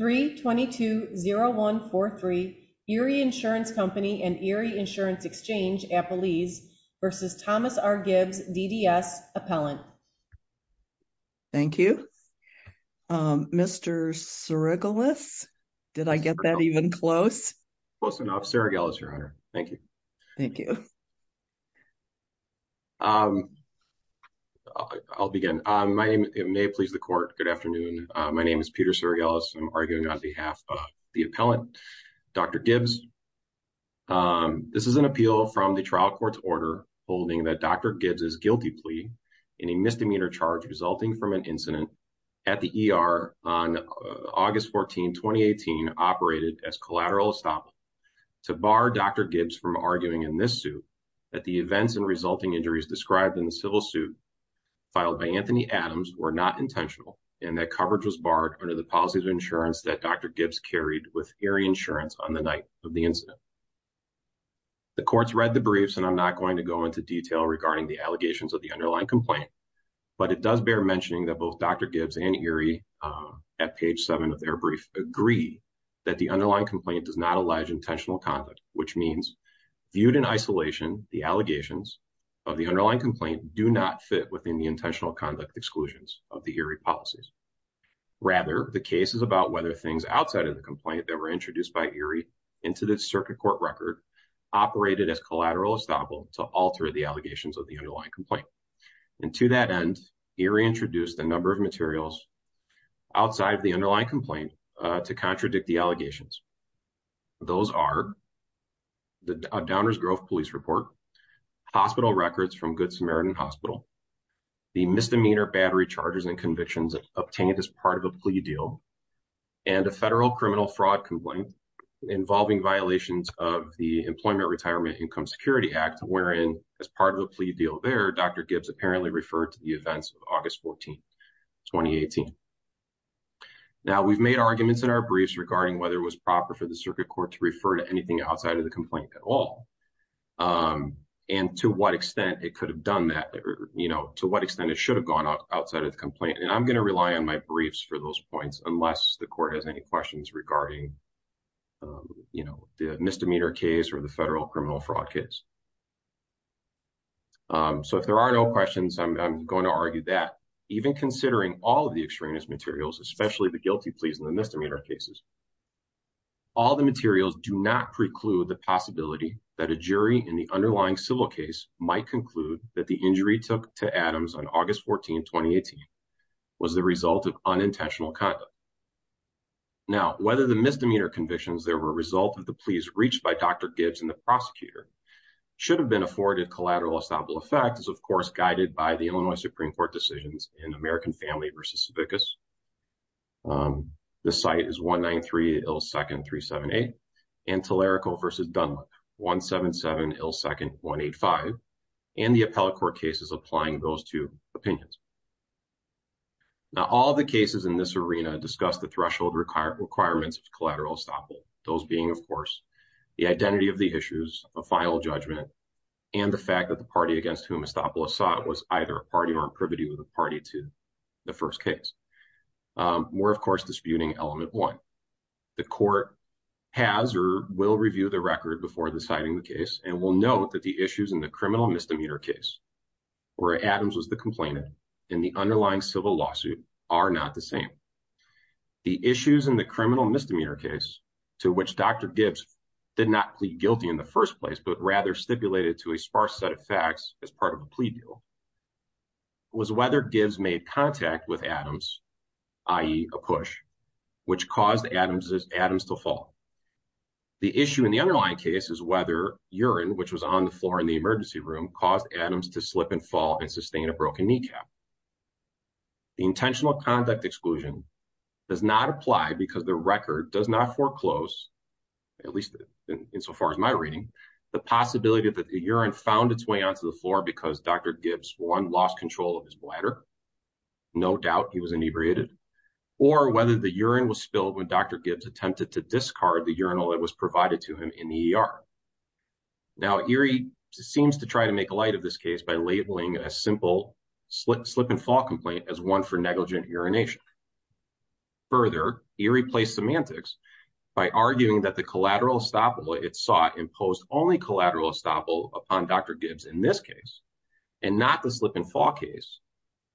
322-0143 Erie Insurance Company and Erie Insurance Exchange, Appalese v. Thomas R. Gibbs, DDS Appellant. Thank you. Mr. Sirigelis, did I get that even close? Close enough. Sirigelis, Your Honor. Thank you. Thank you. I'll begin. My name may please the Court. Good afternoon. My name is Peter Sirigelis. I'm arguing on behalf of the appellant, Dr. Gibbs. This is an appeal from the trial court's order holding that Dr. Gibbs' guilty plea in a misdemeanor charge resulting from an incident at the ER on August 14, 2018, operated as collateral estoppel to bar Dr. Gibbs from arguing in this suit that the events and resulting injuries described in the under the policy of insurance that Dr. Gibbs carried with Erie Insurance on the night of the incident. The Court's read the briefs and I'm not going to go into detail regarding the allegations of the underlying complaint, but it does bear mentioning that both Dr. Gibbs and Erie at page seven of their brief agree that the underlying complaint does not allege intentional conduct, which means viewed in isolation, the allegations of the underlying complaint do not fit within the rather the case is about whether things outside of the complaint that were introduced by Erie into the circuit court record operated as collateral estoppel to alter the allegations of the underlying complaint. And to that end, Erie introduced a number of materials outside of the underlying complaint to contradict the allegations. Those are the Downers Grove Police Report, hospital records from Good Samaritan Hospital, the misdemeanor battery charges and convictions obtained as part of a plea deal, and a federal criminal fraud complaint involving violations of the Employment Retirement Income Security Act, wherein as part of a plea deal there, Dr. Gibbs apparently referred to the events of August 14, 2018. Now we've made arguments in our briefs regarding whether it was proper for the circuit court to refer to anything outside of the complaint at all. And to what extent it could have done that, or to what extent it should have gone outside of the complaint. And I'm going to rely on my briefs for those points, unless the court has any questions regarding the misdemeanor case or the federal criminal fraud case. So if there are no questions, I'm going to argue that even considering all of the extraneous materials, especially the guilty pleas and the misdemeanor cases, all the materials do not preclude the possibility that a jury in the underlying civil case might conclude that the injury took to Adams on August 14, 2018 was the result of unintentional conduct. Now, whether the misdemeanor convictions there were a result of the pleas reached by Dr. Gibbs and the prosecutor should have been afforded collateral estoppel effect is, of course, guided by the Illinois Supreme Court decisions in American Family v. Savickas. The site is 193 378 and Telerico v. Dunlap 177 ill second 185 and the appellate court cases applying those two opinions. Now, all the cases in this arena discuss the threshold required requirements of collateral estoppel. Those being, of course, the identity of the issues, a final judgment, and the fact that the party against whom estoppel was sought was either a party or a privity with party to the first case. We're, of course, disputing element one. The court has or will review the record before deciding the case and will note that the issues in the criminal misdemeanor case where Adams was the complainant in the underlying civil lawsuit are not the same. The issues in the criminal misdemeanor case to which Dr. Gibbs did not plead guilty in the first place but rather stipulated to a sparse set of facts as part of a plea deal was whether Gibbs made contact with Adams, i.e. a push, which caused Adams to fall. The issue in the underlying case is whether urine, which was on the floor in the emergency room, caused Adams to slip and fall and sustain a broken kneecap. The intentional conduct exclusion does not apply because the record does not foreclose, at least in so far as my reading, the possibility that the urine found its way onto the floor because Dr. Gibbs, one, lost control of his bladder. No doubt he was inebriated. Or whether the urine was spilled when Dr. Gibbs attempted to discard the urinal that was provided to him in the ER. Now, Erie seems to try to make light of this case by labeling a simple slip and fall complaint as one for negligent urination. Further, Erie placed semantics by arguing that the collateral estoppel it sought imposed only collateral estoppel upon Dr. Gibbs in this case and not the slip and fall case.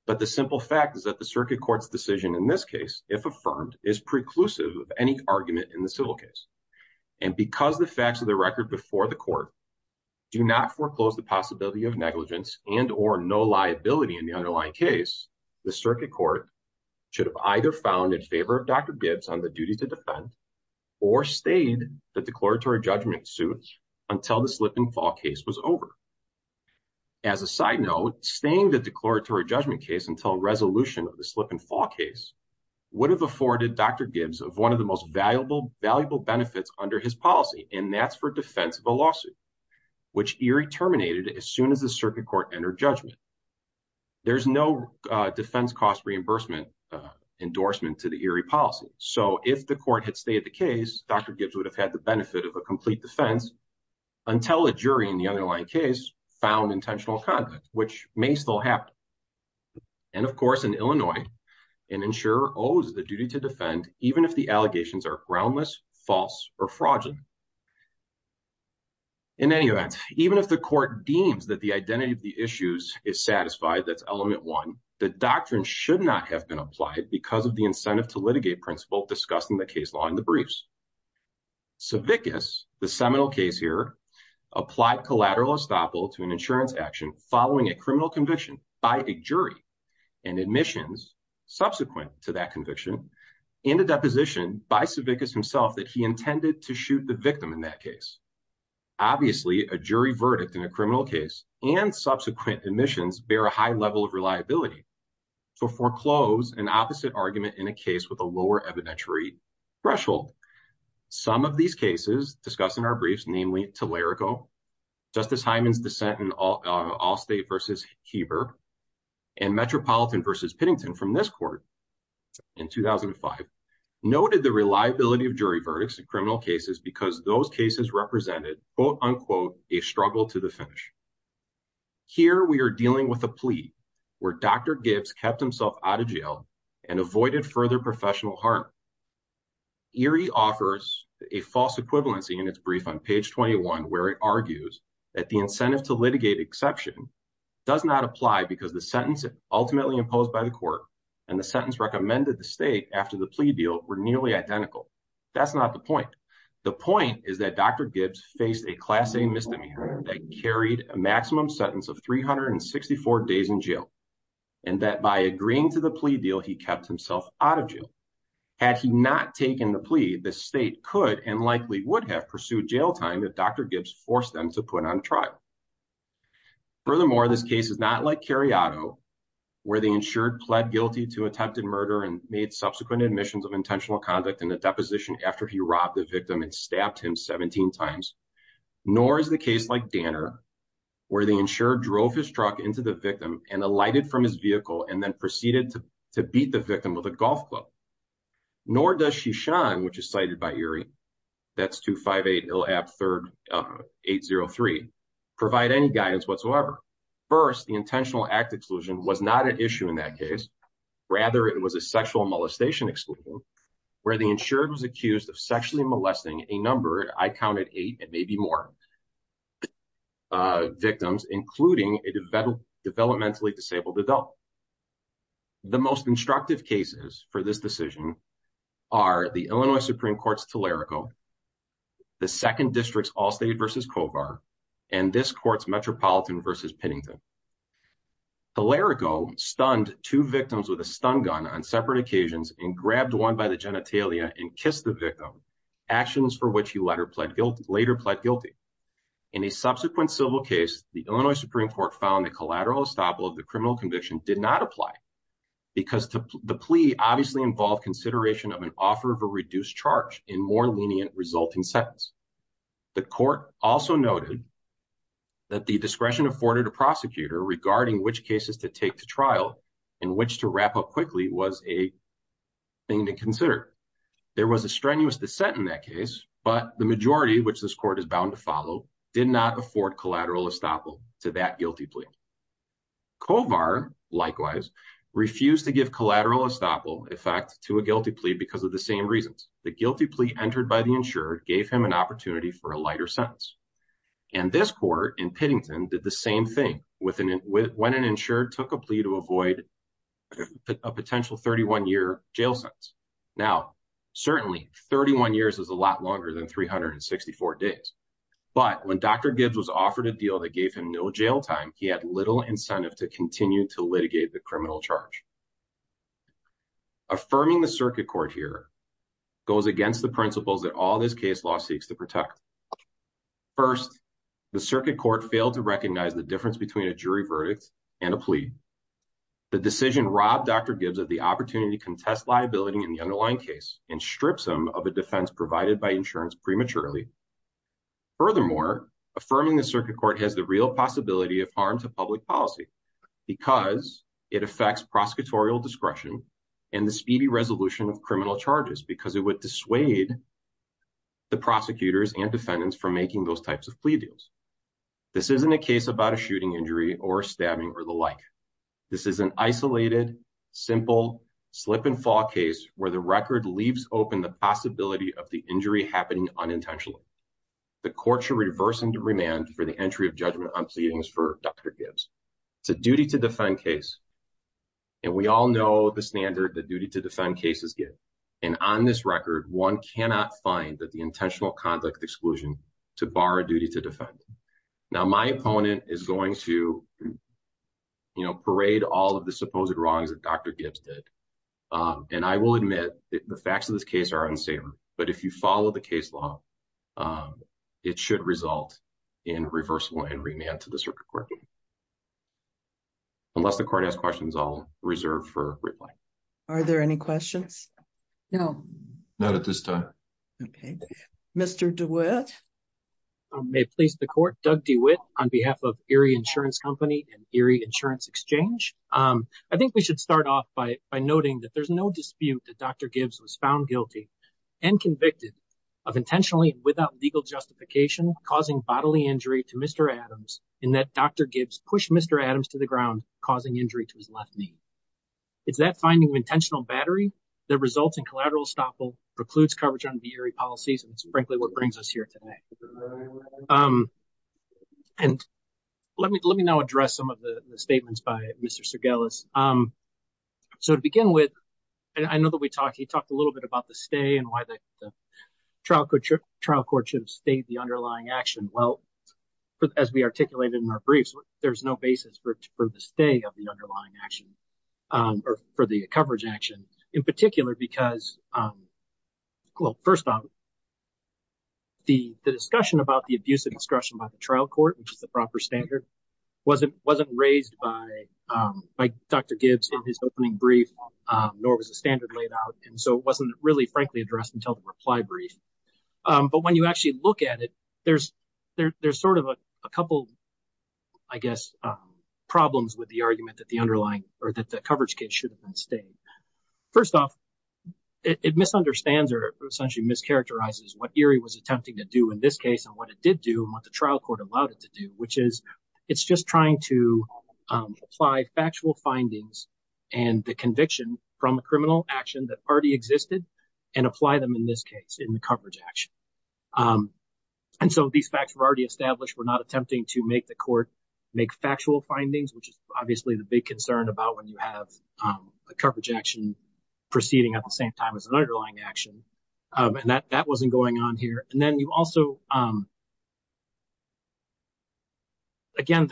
But the simple fact is that the circuit court's decision in this case, if affirmed, is preclusive of any argument in the civil case. And because the facts of the record before the court do not foreclose the possibility of negligence and or no liability in the underlying case, the circuit court should have either found in favor of Dr. Gibbs on the duty to defend or stayed the declaratory judgment suit until the slip and fall case was over. As a side note, staying the declaratory judgment case until resolution of the slip and fall case would have afforded Dr. Gibbs of one of the most valuable benefits under his policy, and that's for defense of a lawsuit, which Erie terminated as soon as the circuit court entered judgment. There's no defense cost reimbursement endorsement to the Erie policy. So if the court had stayed the case, Dr. Gibbs would have had the benefit of a complete defense until a jury in the underlying case found intentional conduct, which may still happen. And of course, in Illinois, an insurer owes the duty to defend even if the allegations are groundless, false, or fraudulent. In any event, even if the court deems that the identity of the issues is satisfied, that's element one, the doctrine should not have been applied because of incentive to litigate principle discussed in the case law in the briefs. Savickas, the seminal case here, applied collateral estoppel to an insurance action following a criminal conviction by a jury and admissions subsequent to that conviction and a deposition by Savickas himself that he intended to shoot the victim in that case. Obviously, a jury verdict in a criminal case and subsequent admissions bear a high level of reliability. So foreclose an opposite argument in a case with a lower evidentiary threshold. Some of these cases discussed in our briefs, namely Telerico, Justice Hyman's dissent in Allstate v. Heber, and Metropolitan v. Pittington from this court in 2005, noted the reliability of jury verdicts in criminal cases because those cases represented quote unquote a struggle to the finish. Here we are dealing with a plea where Dr. Gibbs kept himself out of jail and avoided further professional harm. Erie offers a false equivalency in its brief on page 21 where it argues that the incentive to litigate exception does not apply because the sentence ultimately imposed by the court and the sentence recommended the state after the plea deal were nearly identical. That's not the point. The point is that Dr. Gibbs faced a Class A misdemeanor that carried a maximum sentence of 364 days in jail, and that by agreeing to the plea deal, he kept himself out of jail. Had he not taken the plea, the state could and likely would have pursued jail time if Dr. Gibbs forced them to put on trial. Furthermore, this case is not like Carriato where the insured pled guilty to attempted murder and made subsequent admissions of intentional conduct in a deposition after he robbed the victim and stabbed him 17 times. Nor is the case like Danner where the insured drove his truck into the victim and alighted from his vehicle and then proceeded to beat the victim with a golf club. Nor does Shishan, which is cited by Erie, that's 258-IL-AP-803, provide any guidance whatsoever. First, the insured was accused of sexually molesting a number, I counted eight and maybe more, victims, including a developmentally disabled adult. The most instructive cases for this decision are the Illinois Supreme Court's Telerico, the Second District's Allstate v. Kovar, and this court's Metropolitan v. Pinnington. Telerico stunned two victims with a stun gun on separate occasions and grabbed one by the genitalia and kissed the victim, actions for which he later pled guilty. In a subsequent civil case, the Illinois Supreme Court found that collateral estoppel of the criminal conviction did not apply because the plea obviously involved consideration of an offer of a reduced charge in more lenient resulting sentence. The court also noted that the discretion afforded a prosecutor regarding which cases to take to trial and which to wrap up quickly was a thing to consider. There was a strenuous dissent in that case, but the majority, which this court is bound to follow, did not afford collateral estoppel to that guilty plea. Kovar, likewise, refused to give collateral estoppel effect to a guilty plea because of the same reasons. The guilty plea entered by the insured gave him an opportunity for a lighter sentence. And this court in Pinnington did the plea to avoid a potential 31-year jail sentence. Now, certainly, 31 years is a lot longer than 364 days. But when Dr. Gibbs was offered a deal that gave him no jail time, he had little incentive to continue to litigate the criminal charge. Affirming the circuit court here goes against the principles that all this case law seeks to protect. First, the circuit court failed to plead. The decision robbed Dr. Gibbs of the opportunity to contest liability in the underlying case and strips him of a defense provided by insurance prematurely. Furthermore, affirming the circuit court has the real possibility of harm to public policy because it affects prosecutorial discretion and the speedy resolution of criminal charges because it would dissuade the prosecutors and defendants from making those types of plea deals. This isn't a case about a shooting injury or stabbing or the like. This is an isolated, simple, slip-and-fall case where the record leaves open the possibility of the injury happening unintentionally. The court should reverse into remand for the entry of judgment on pleadings for Dr. Gibbs. It's a duty-to-defend case. And we all know the standard that duty-to- defend cases get. And on this record, one cannot find that the intentional conduct exclusion to bar a duty-to-defend. Now, my opponent is going to, you know, parade all of the supposed wrongs that Dr. Gibbs did. And I will admit the facts of this case are unsavory. But if you follow the case law, it should result in reversible and remand to the circuit court. Unless the court has questions, I'll reserve for reply. Are there any questions? No. Not at this time. Okay. Mr. DeWitt. May it please the court. Doug DeWitt on behalf of Erie Insurance Company and Erie Insurance Exchange. I think we should start off by noting that there's no dispute that Dr. Gibbs was found guilty and convicted of intentionally, without legal justification, causing bodily injury to Mr. Adams in that Dr. Gibbs pushed Mr. Adams to the ground, causing injury to his left knee. It's that finding of intentional battery that results in collateral estoppel, precludes coverage on the Erie policies, and it's frankly what brings us here today. And let me now address some of the statements by Mr. Sergelis. So to begin with, and I know that we talked, he talked a little bit about the stay and why the trial court should have stayed the underlying action. Well, as we articulated in our briefs, there's no basis for the stay of the underlying action or for the coverage action in particular because, well, first off, the discussion about the abuse of discretion by the trial court, which is the proper standard, wasn't raised by Dr. Gibbs in his opening brief, nor was the standard laid out. And so it wasn't really frankly addressed until the reply brief. But when you actually look at it, there's sort of a couple, I guess, problems with the argument that the underlying or that the coverage case should have been stayed. First off, it misunderstands or essentially mischaracterizes what Erie was attempting to do in this case and what it did do and what the trial court allowed it to do, which is it's just trying to apply factual findings and the conviction from a criminal action that already existed and apply them in this case in the coverage action. And so these facts were already established. We're not attempting to make the court make factual findings, which is obviously the big concern about when you have a coverage action proceeding at the same time as an underlying action. And that wasn't going on here. And then you also, again,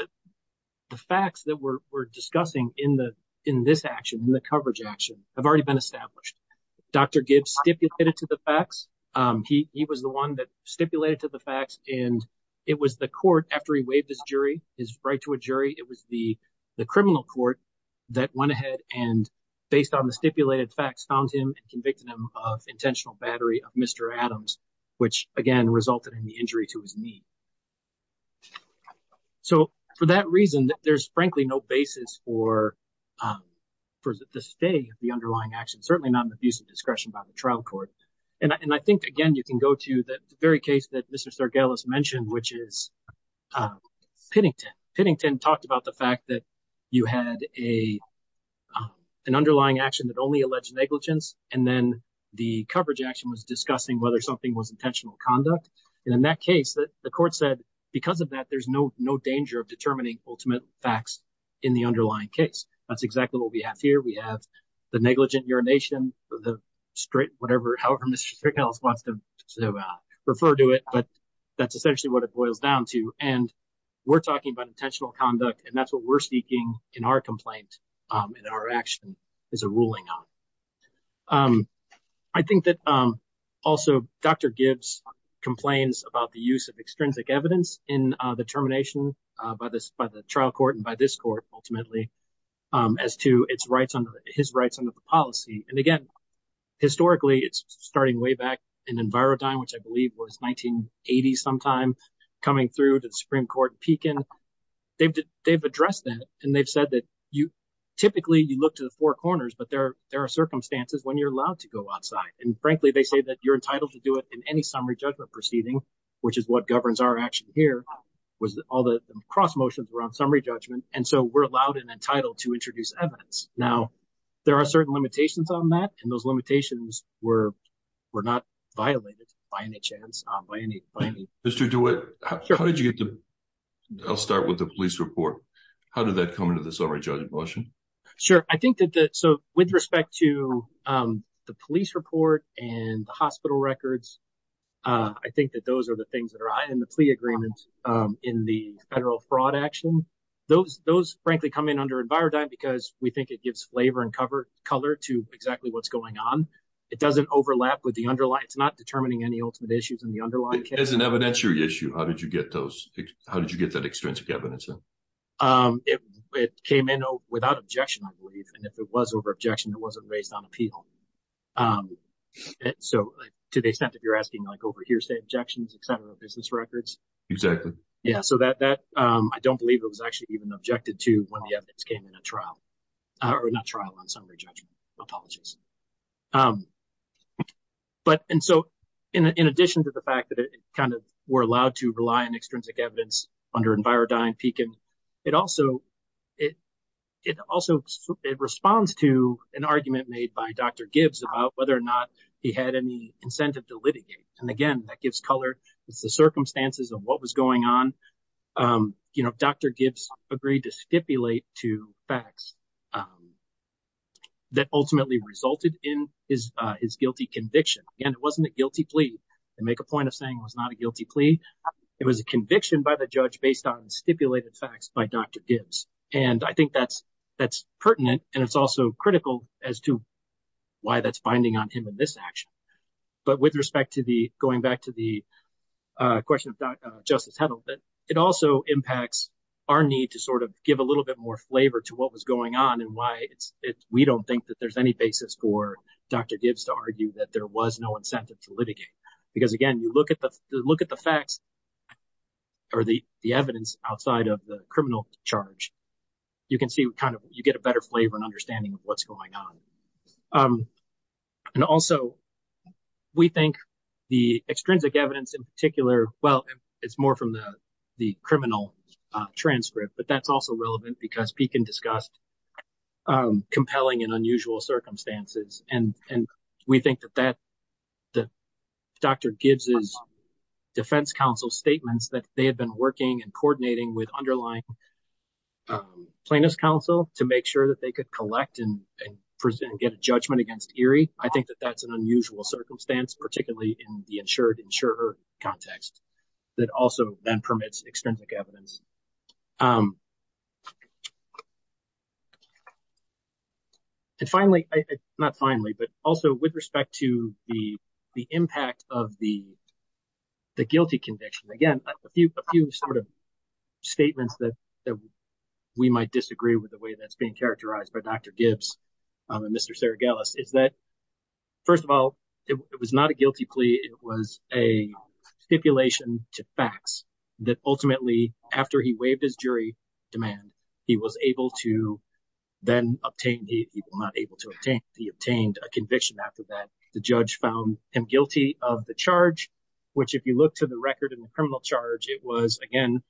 the facts that we're discussing in this action, in the coverage action, have already been established. Dr. Gibbs stipulated to the facts. He was the one that stipulated to the facts. And it was the court, after he waived his jury, his right to a jury, it was the criminal court that went ahead and, based on the stipulated facts, found him and convicted him of intentional battery of Mr. Adams, which, again, resulted in the injury to his knee. So for that reason, there's frankly no basis for the stay of the case. And I think, again, you can go to the very case that Mr. Sargalas mentioned, which is Pittington. Pittington talked about the fact that you had an underlying action that only alleged negligence, and then the coverage action was discussing whether something was intentional conduct. And in that case, the court said, because of that, there's no danger of determining ultimate facts in the underlying case. That's exactly what we have here. We have the negligent urination, straight, whatever, however Mr. Sargalas wants to refer to it, but that's essentially what it boils down to. And we're talking about intentional conduct, and that's what we're seeking in our complaint, in our action, is a ruling on. I think that also Dr. Gibbs complains about the use of extrinsic evidence in the termination by the trial court and by this court, ultimately, as to his rights under the policy. And again, historically, it's starting way back in Envirodyne, which I believe was 1980 sometime, coming through to the Supreme Court in Pekin. They've addressed that, and they've said that typically, you look to the four corners, but there are circumstances when you're allowed to go outside. And frankly, they say that you're entitled to do it in any summary judgment proceeding, which is what governs our action here, was all the cross motions around summary judgment. And so, we're allowed and entitled to introduce evidence. Now, there are certain limitations on that, and those limitations were not violated by any chance, by any. Mr. DeWitt, how did you get the, I'll start with the police report. How did that come into the summary judgment motion? Sure. I think that the, so with respect to the police report and the hospital records, I think that those are the agreements in the federal fraud action. Those, frankly, come in under Envirodyne because we think it gives flavor and color to exactly what's going on. It doesn't overlap with the underlying, it's not determining any ultimate issues in the underlying case. As an evidentiary issue, how did you get those, how did you get that extrinsic evidence in? It came in without objection, I believe. And if it was over objection, it wasn't raised on appeal. And so, to the extent that you're asking like over hearsay objections, et cetera, business records. Exactly. Yeah. So, that, I don't believe it was actually even objected to when the evidence came in a trial, or not trial, on summary judgment. Apologies. But, and so, in addition to the fact that it kind of, we're allowed to rely on extrinsic evidence under Envirodyne, it also responds to an argument made by Dr. Gibbs about whether or not he had any incentive to litigate. And again, that gives color, it's the circumstances of what was going on. Dr. Gibbs agreed to stipulate two facts that ultimately resulted in his guilty conviction. Again, it wasn't a guilty plea. To make a point of saying it was not a guilty plea, it was a conviction by the judge based on stipulated facts by Dr. Gibbs. And I think that's pertinent, and it's also critical as to why that's binding on him in this action. But with respect to the, going back to the question of Justice Hedlund, it also impacts our need to sort of give a little bit more flavor to what was going on and why we don't think that there's any basis for Dr. Gibbs to argue that there was no incentive to litigate. Because again, look at the facts or the evidence outside of the criminal charge, you can see kind of, you get a better flavor and understanding of what's going on. And also, we think the extrinsic evidence in particular, well, it's more from the criminal transcript, but that's also relevant because Pekin discussed compelling and unusual circumstances. And we think that Dr. Gibbs' defense counsel statements that they had been working and coordinating with underlying plaintiff's counsel to make sure that they could collect and get a judgment against Erie, I think that that's an unusual circumstance, particularly in the insured-insurer context that also then permits extrinsic evidence. And finally, not finally, but also with respect to the impact of the guilty conviction, again, a few sort of statements that we might disagree with the way that's being characterized by Dr. Gibbs and Mr. Sergelis is that, first of all, it was not a guilty plea, it was a stipulation to facts that ultimately, after he waived his jury demand, he was able to then obtain, he was not able to obtain, he obtained a conviction after that. The judge found him guilty of the charge, which if you look to the record in the criminal charge, it was, again,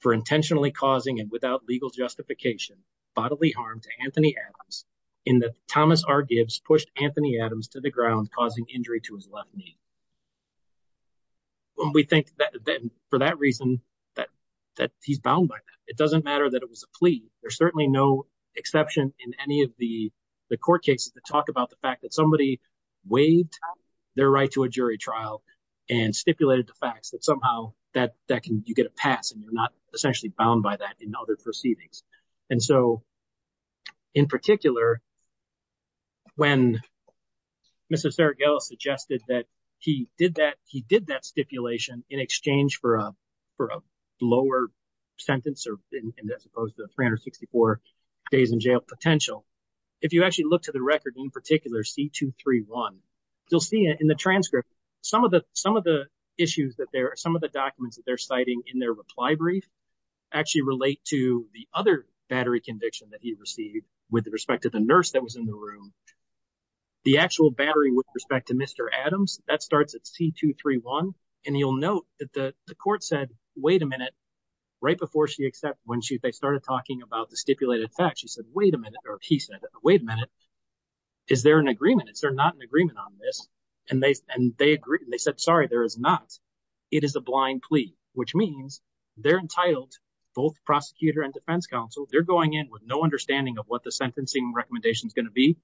for intentionally causing and without legal justification bodily harm to Anthony Adams in that Thomas R. Gibbs pushed Anthony Adams to the ground causing injury to his left knee. When we think that for that reason, that he's bound by that, it doesn't matter that it was a plea. There's certainly no exception in any of the court cases that talk about the fact that somebody waived their right to a jury trial and stipulated the facts that somehow that can, you get a pass and you're not essentially bound by that in other proceedings. And so, in particular, when Mr. Sergelis suggested that he did that, he did that stipulation in exchange for a lower sentence or as opposed to 364 days in jail potential, if you actually look to the record in particular, C-231, you'll see in the transcript some of the issues that there are, some of the documents that they're citing in their reply brief actually relate to the other battery conviction that he received with respect to the nurse that was in the room. The actual battery with respect to Mr. Adams, that starts at C-231, and you'll note that the court said, wait a minute, right before she accepted, when they started talking about the stipulated facts, she said, wait a minute, or he said, wait a minute, is there an agreement? Is there not an agreement on this? And they agreed, they said, sorry, there is not. It is a blind defense counsel. They're going in with no understanding of what the sentencing recommendation is going to be.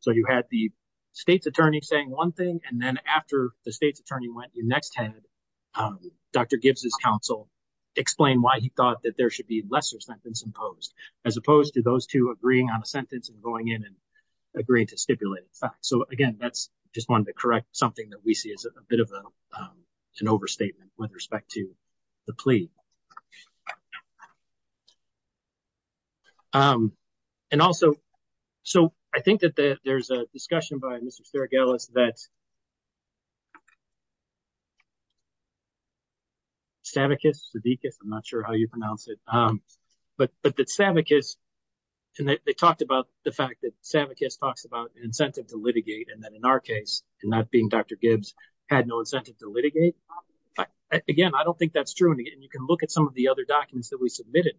So you had the state's attorney saying one thing, and then after the state's attorney went, you next had Dr. Gibbs' counsel explain why he thought that there should be lesser sentence imposed, as opposed to those two agreeing on a sentence and going in and agreeing to stipulated facts. So again, that's just one of the correct, something that we see as a bit of an overstatement with respect to the plea. And also, so I think that there's a discussion by Mr. Sterigelis that Savickas, Savickas, I'm not sure how you pronounce it, but that Savickas, and they talked about the fact that Savickas talks about an incentive to litigate, and that in our case, and that being Dr. Gibbs, had no incentive to litigate. Again, I don't think that's true, and you can look at some of the other documents that we submitted,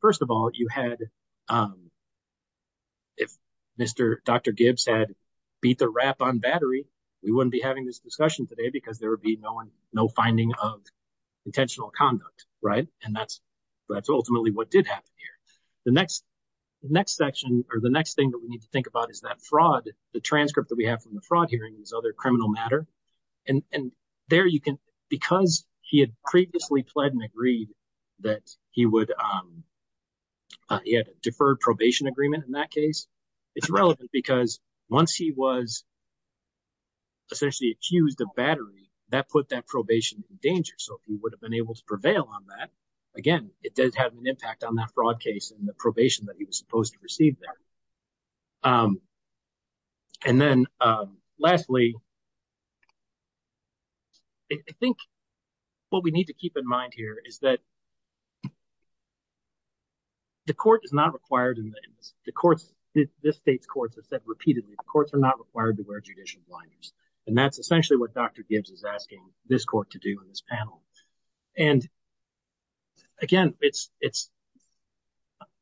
first of all, you had, if Mr. Dr. Gibbs had beat the rap on battery, we wouldn't be having this discussion today because there would be no one, no finding of intentional conduct, right? And that's, that's ultimately what did happen here. The next, next section, or the next thing that we need to think about is that fraud, the transcript that we have from the fraud hearing, this other criminal matter, and there you can, because he had previously pled and agreed that he would, he had a deferred probation agreement in that case, it's relevant because once he was essentially accused of battery, that put that probation in danger, so he would have been able to prevail on that. Again, it does have an impact on that fraud case and the probation that he was supposed to receive there. And then lastly, I think what we need to keep in mind here is that the court is not required in this, the courts, this state's courts have said repeatedly, the courts are not required to wear judicial blinders. And that's essentially what Dr. Gibbs is asking this court to do in this panel. And again, it's, it's,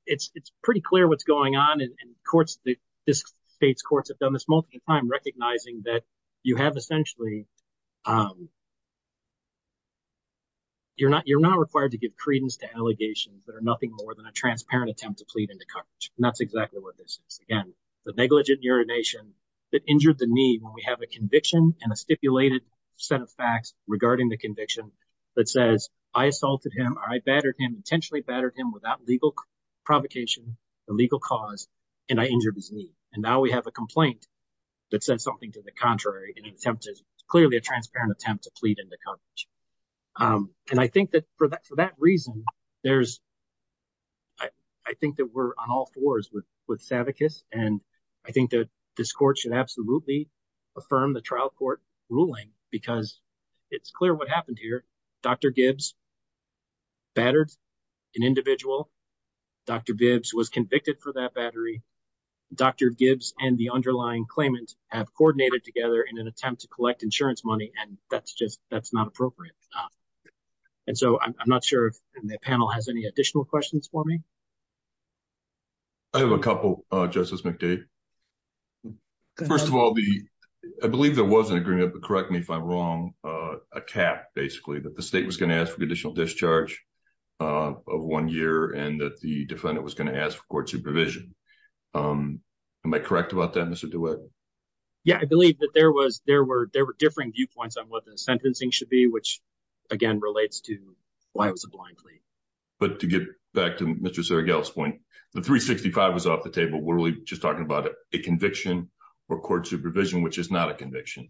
it's, it's pretty clear what's going on in courts that this state's courts have done this multiple times, recognizing that you have essentially, you're not, you're not required to give credence to allegations that are nothing more than a transparent attempt to plead into coverage. And that's exactly what this is. Again, the negligent urination that injured the knee when we have a conviction and a stipulated set of facts regarding the conviction that says, I assaulted him, I battered him, intentionally battered him without legal provocation, the legal cause, and I injured his knee. And now we have a complaint that says something to the contrary in an attempt to, clearly a transparent attempt to plead into coverage. And I think that for that, for that reason, there's, I think that we're on all fours with, with Savickas. And I think that this court should absolutely affirm the trial court ruling because it's clear what happened here. Dr. Gibbs battered an individual. Dr. Gibbs was convicted for that battery. Dr. Gibbs and the underlying claimant have coordinated together in an attempt to collect insurance money. And that's just, that's not appropriate. And so I'm not sure if the panel has any additional questions for me. I have a couple, Justice McDade. First of all, the, I believe there was an agreement, but correct me if I'm wrong, a cap, basically, that the state was going to ask for additional discharge of one year and that the defendant was going to ask for court supervision. Am I correct about that, Mr. DeWitt? Yeah, I believe that there was, there were, there were differing viewpoints on what the sentencing should be, which again relates to why it was a blind plea. But to get back to Mr. Sergel's point, the 365 was off the table. We're really just talking about a conviction or court supervision, which is not a conviction.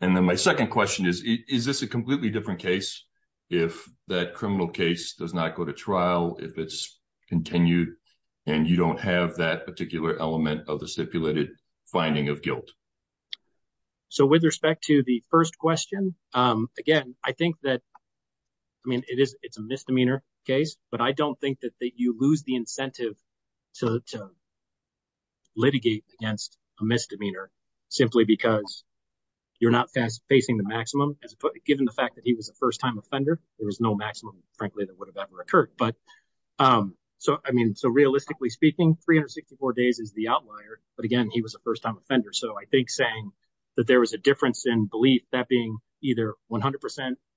And then my second question is, is this a completely different case if that criminal case does not go to trial, if it's continued and you don't have that particular element of the stipulated finding of guilt? So with respect to the first question, again, I think that, I mean, it is, it's a misdemeanor case, but I don't think that you lose the incentive to litigate against a misdemeanor simply because you're not facing the maximum. Given the fact that he was a first-time offender, there was no maximum, frankly, that would have ever occurred. But so, I mean, so realistically speaking, 364 days is the outlier, but again, he was a first-time offender. So I think saying that there was a difference in belief, that being either 100%,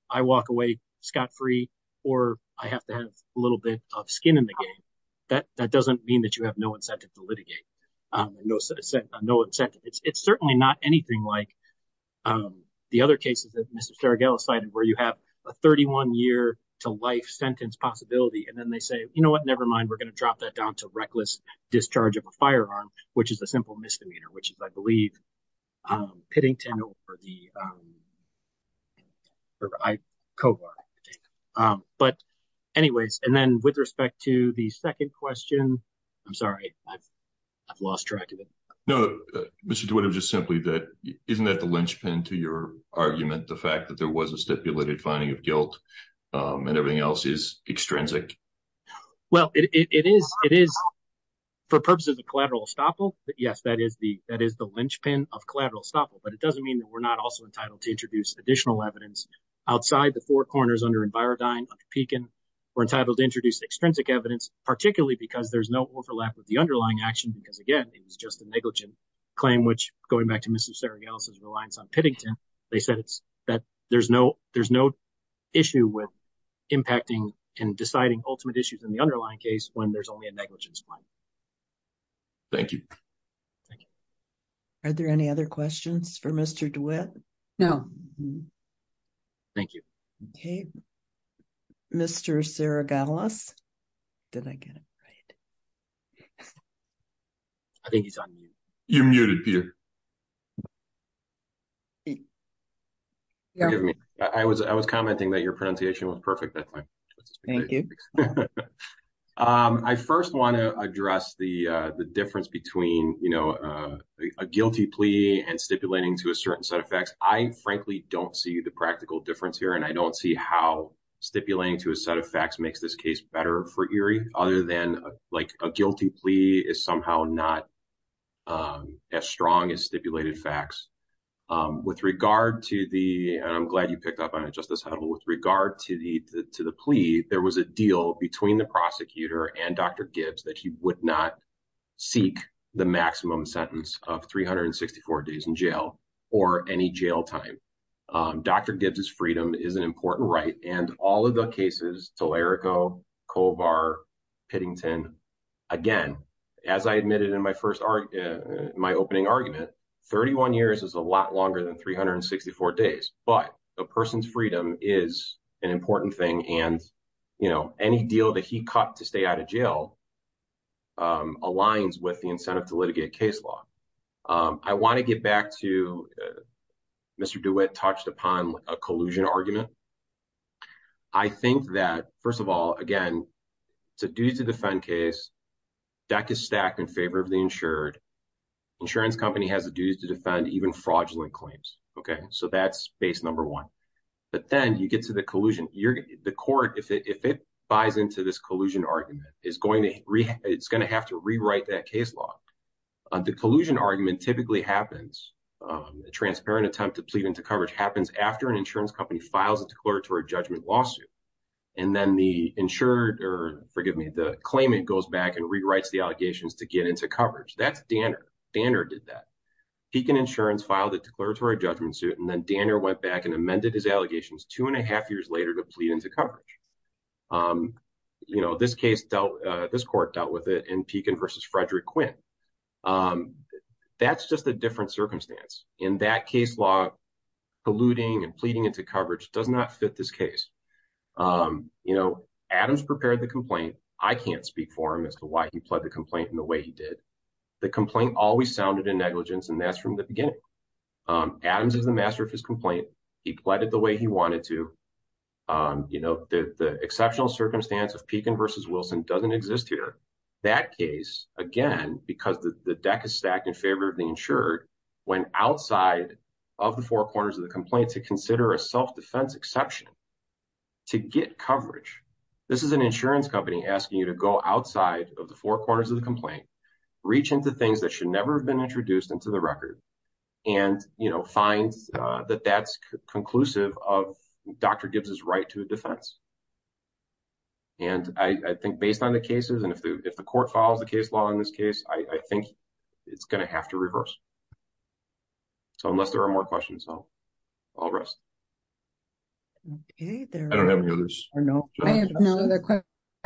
I walk away scot-free, or I have to have a little bit of skin in the game, that doesn't mean that you have no incentive to litigate, no incentive. It's certainly not anything like the other cases that Mr. Staragella cited, where you have a 31-year-to-life sentence possibility, and then they say, you know what, nevermind, we're going to drop that down to reckless discharge of a firearm, which is a simple misdemeanor, which is, I believe, Pittington or Kovar. But anyways, and then with respect to the second question, I'm sorry, I've lost track of it. No, Mr. DeWitt, it was just simply that, isn't that the linchpin to your argument, the fact that there was a stipulated finding of guilt and everything else is extrinsic? Well, it is, for purposes of collateral estoppel, yes, that is the linchpin of collateral estoppel, but it doesn't mean that we're not also entitled to introduce additional evidence outside the four corners under Envirodyne, under Pekin. We're entitled to introduce extrinsic evidence, particularly because there's no overlap with the underlying action, because again, it was just a negligent claim, which, going back to Mr. Staragella's reliance on Pittington, they said that there's no issue with impacting and deciding ultimate issues in the underlying case when there's only a negligence claim. Thank you. Thank you. Are there any other questions? Okay, Mr. Saragalas, did I get it right? I think he's on mute. You're muted, Peter. Forgive me, I was commenting that your pronunciation was perfect that time. Thank you. I first want to address the difference between a guilty plea and stipulating to a set of facts. I, frankly, don't see the practical difference here, and I don't see how stipulating to a set of facts makes this case better for Erie, other than a guilty plea is somehow not as strong as stipulated facts. With regard to the, and I'm glad you picked up on it, Justice Huddle, with regard to the plea, there was a deal between the prosecutor and Dr. Gibbs that he would not seek the maximum sentence of 364 days in jail or any jail time. Dr. Gibbs' freedom is an important right, and all of the cases, Telerico, Kovar, Pittington, again, as I admitted in my opening argument, 31 years is a lot longer than 364 days, but a person's freedom is an important right that aligns with the incentive to litigate case law. I want to get back to Mr. DeWitt touched upon a collusion argument. I think that, first of all, again, it's a duty to defend case. Debt is stacked in favor of the insured. Insurance company has a duty to defend even fraudulent claims, okay? So that's base number one. But then you get to the collusion. The court, if it buys into this collusion argument, it's going to have to rewrite that case law. The collusion argument typically happens, a transparent attempt to plead into coverage happens after an insurance company files a declaratory judgment lawsuit, and then the insured, or forgive me, the claimant goes back and rewrites the allegations to get into coverage. That's Danner. Danner did that. He can insurance file the declaratory judgment suit, and then years later to plead into coverage. This court dealt with it in Pekin versus Frederick Quinn. That's just a different circumstance. In that case law, polluting and pleading into coverage does not fit this case. Adams prepared the complaint. I can't speak for him as to why he pled the complaint in the way he did. The complaint always sounded in negligence, and that's from the beginning. Adams is the master of his complaint. He pleaded the way he wanted to. The exceptional circumstance of Pekin versus Wilson doesn't exist here. That case, again, because the deck is stacked in favor of the insured, went outside of the four corners of the complaint to consider a self-defense exception to get coverage. This is an insurance company asking you to go outside of the four corners of the complaint, reach into things that should never have been introduced into the record, and find that that's conclusive of doctor gives his right to a defense. I think based on the cases, and if the court follows the case law in this case, I think it's going to have to reverse. Unless there are more questions, I'll rest. I don't have any others. I have no other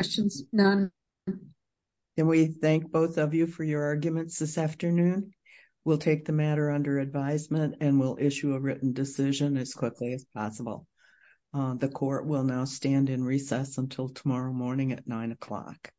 questions, none. And we thank both of you for your arguments this afternoon. We'll take the matter under advisement and we'll issue a written decision as quickly as possible. The court will now stand in recess until tomorrow morning at nine o'clock.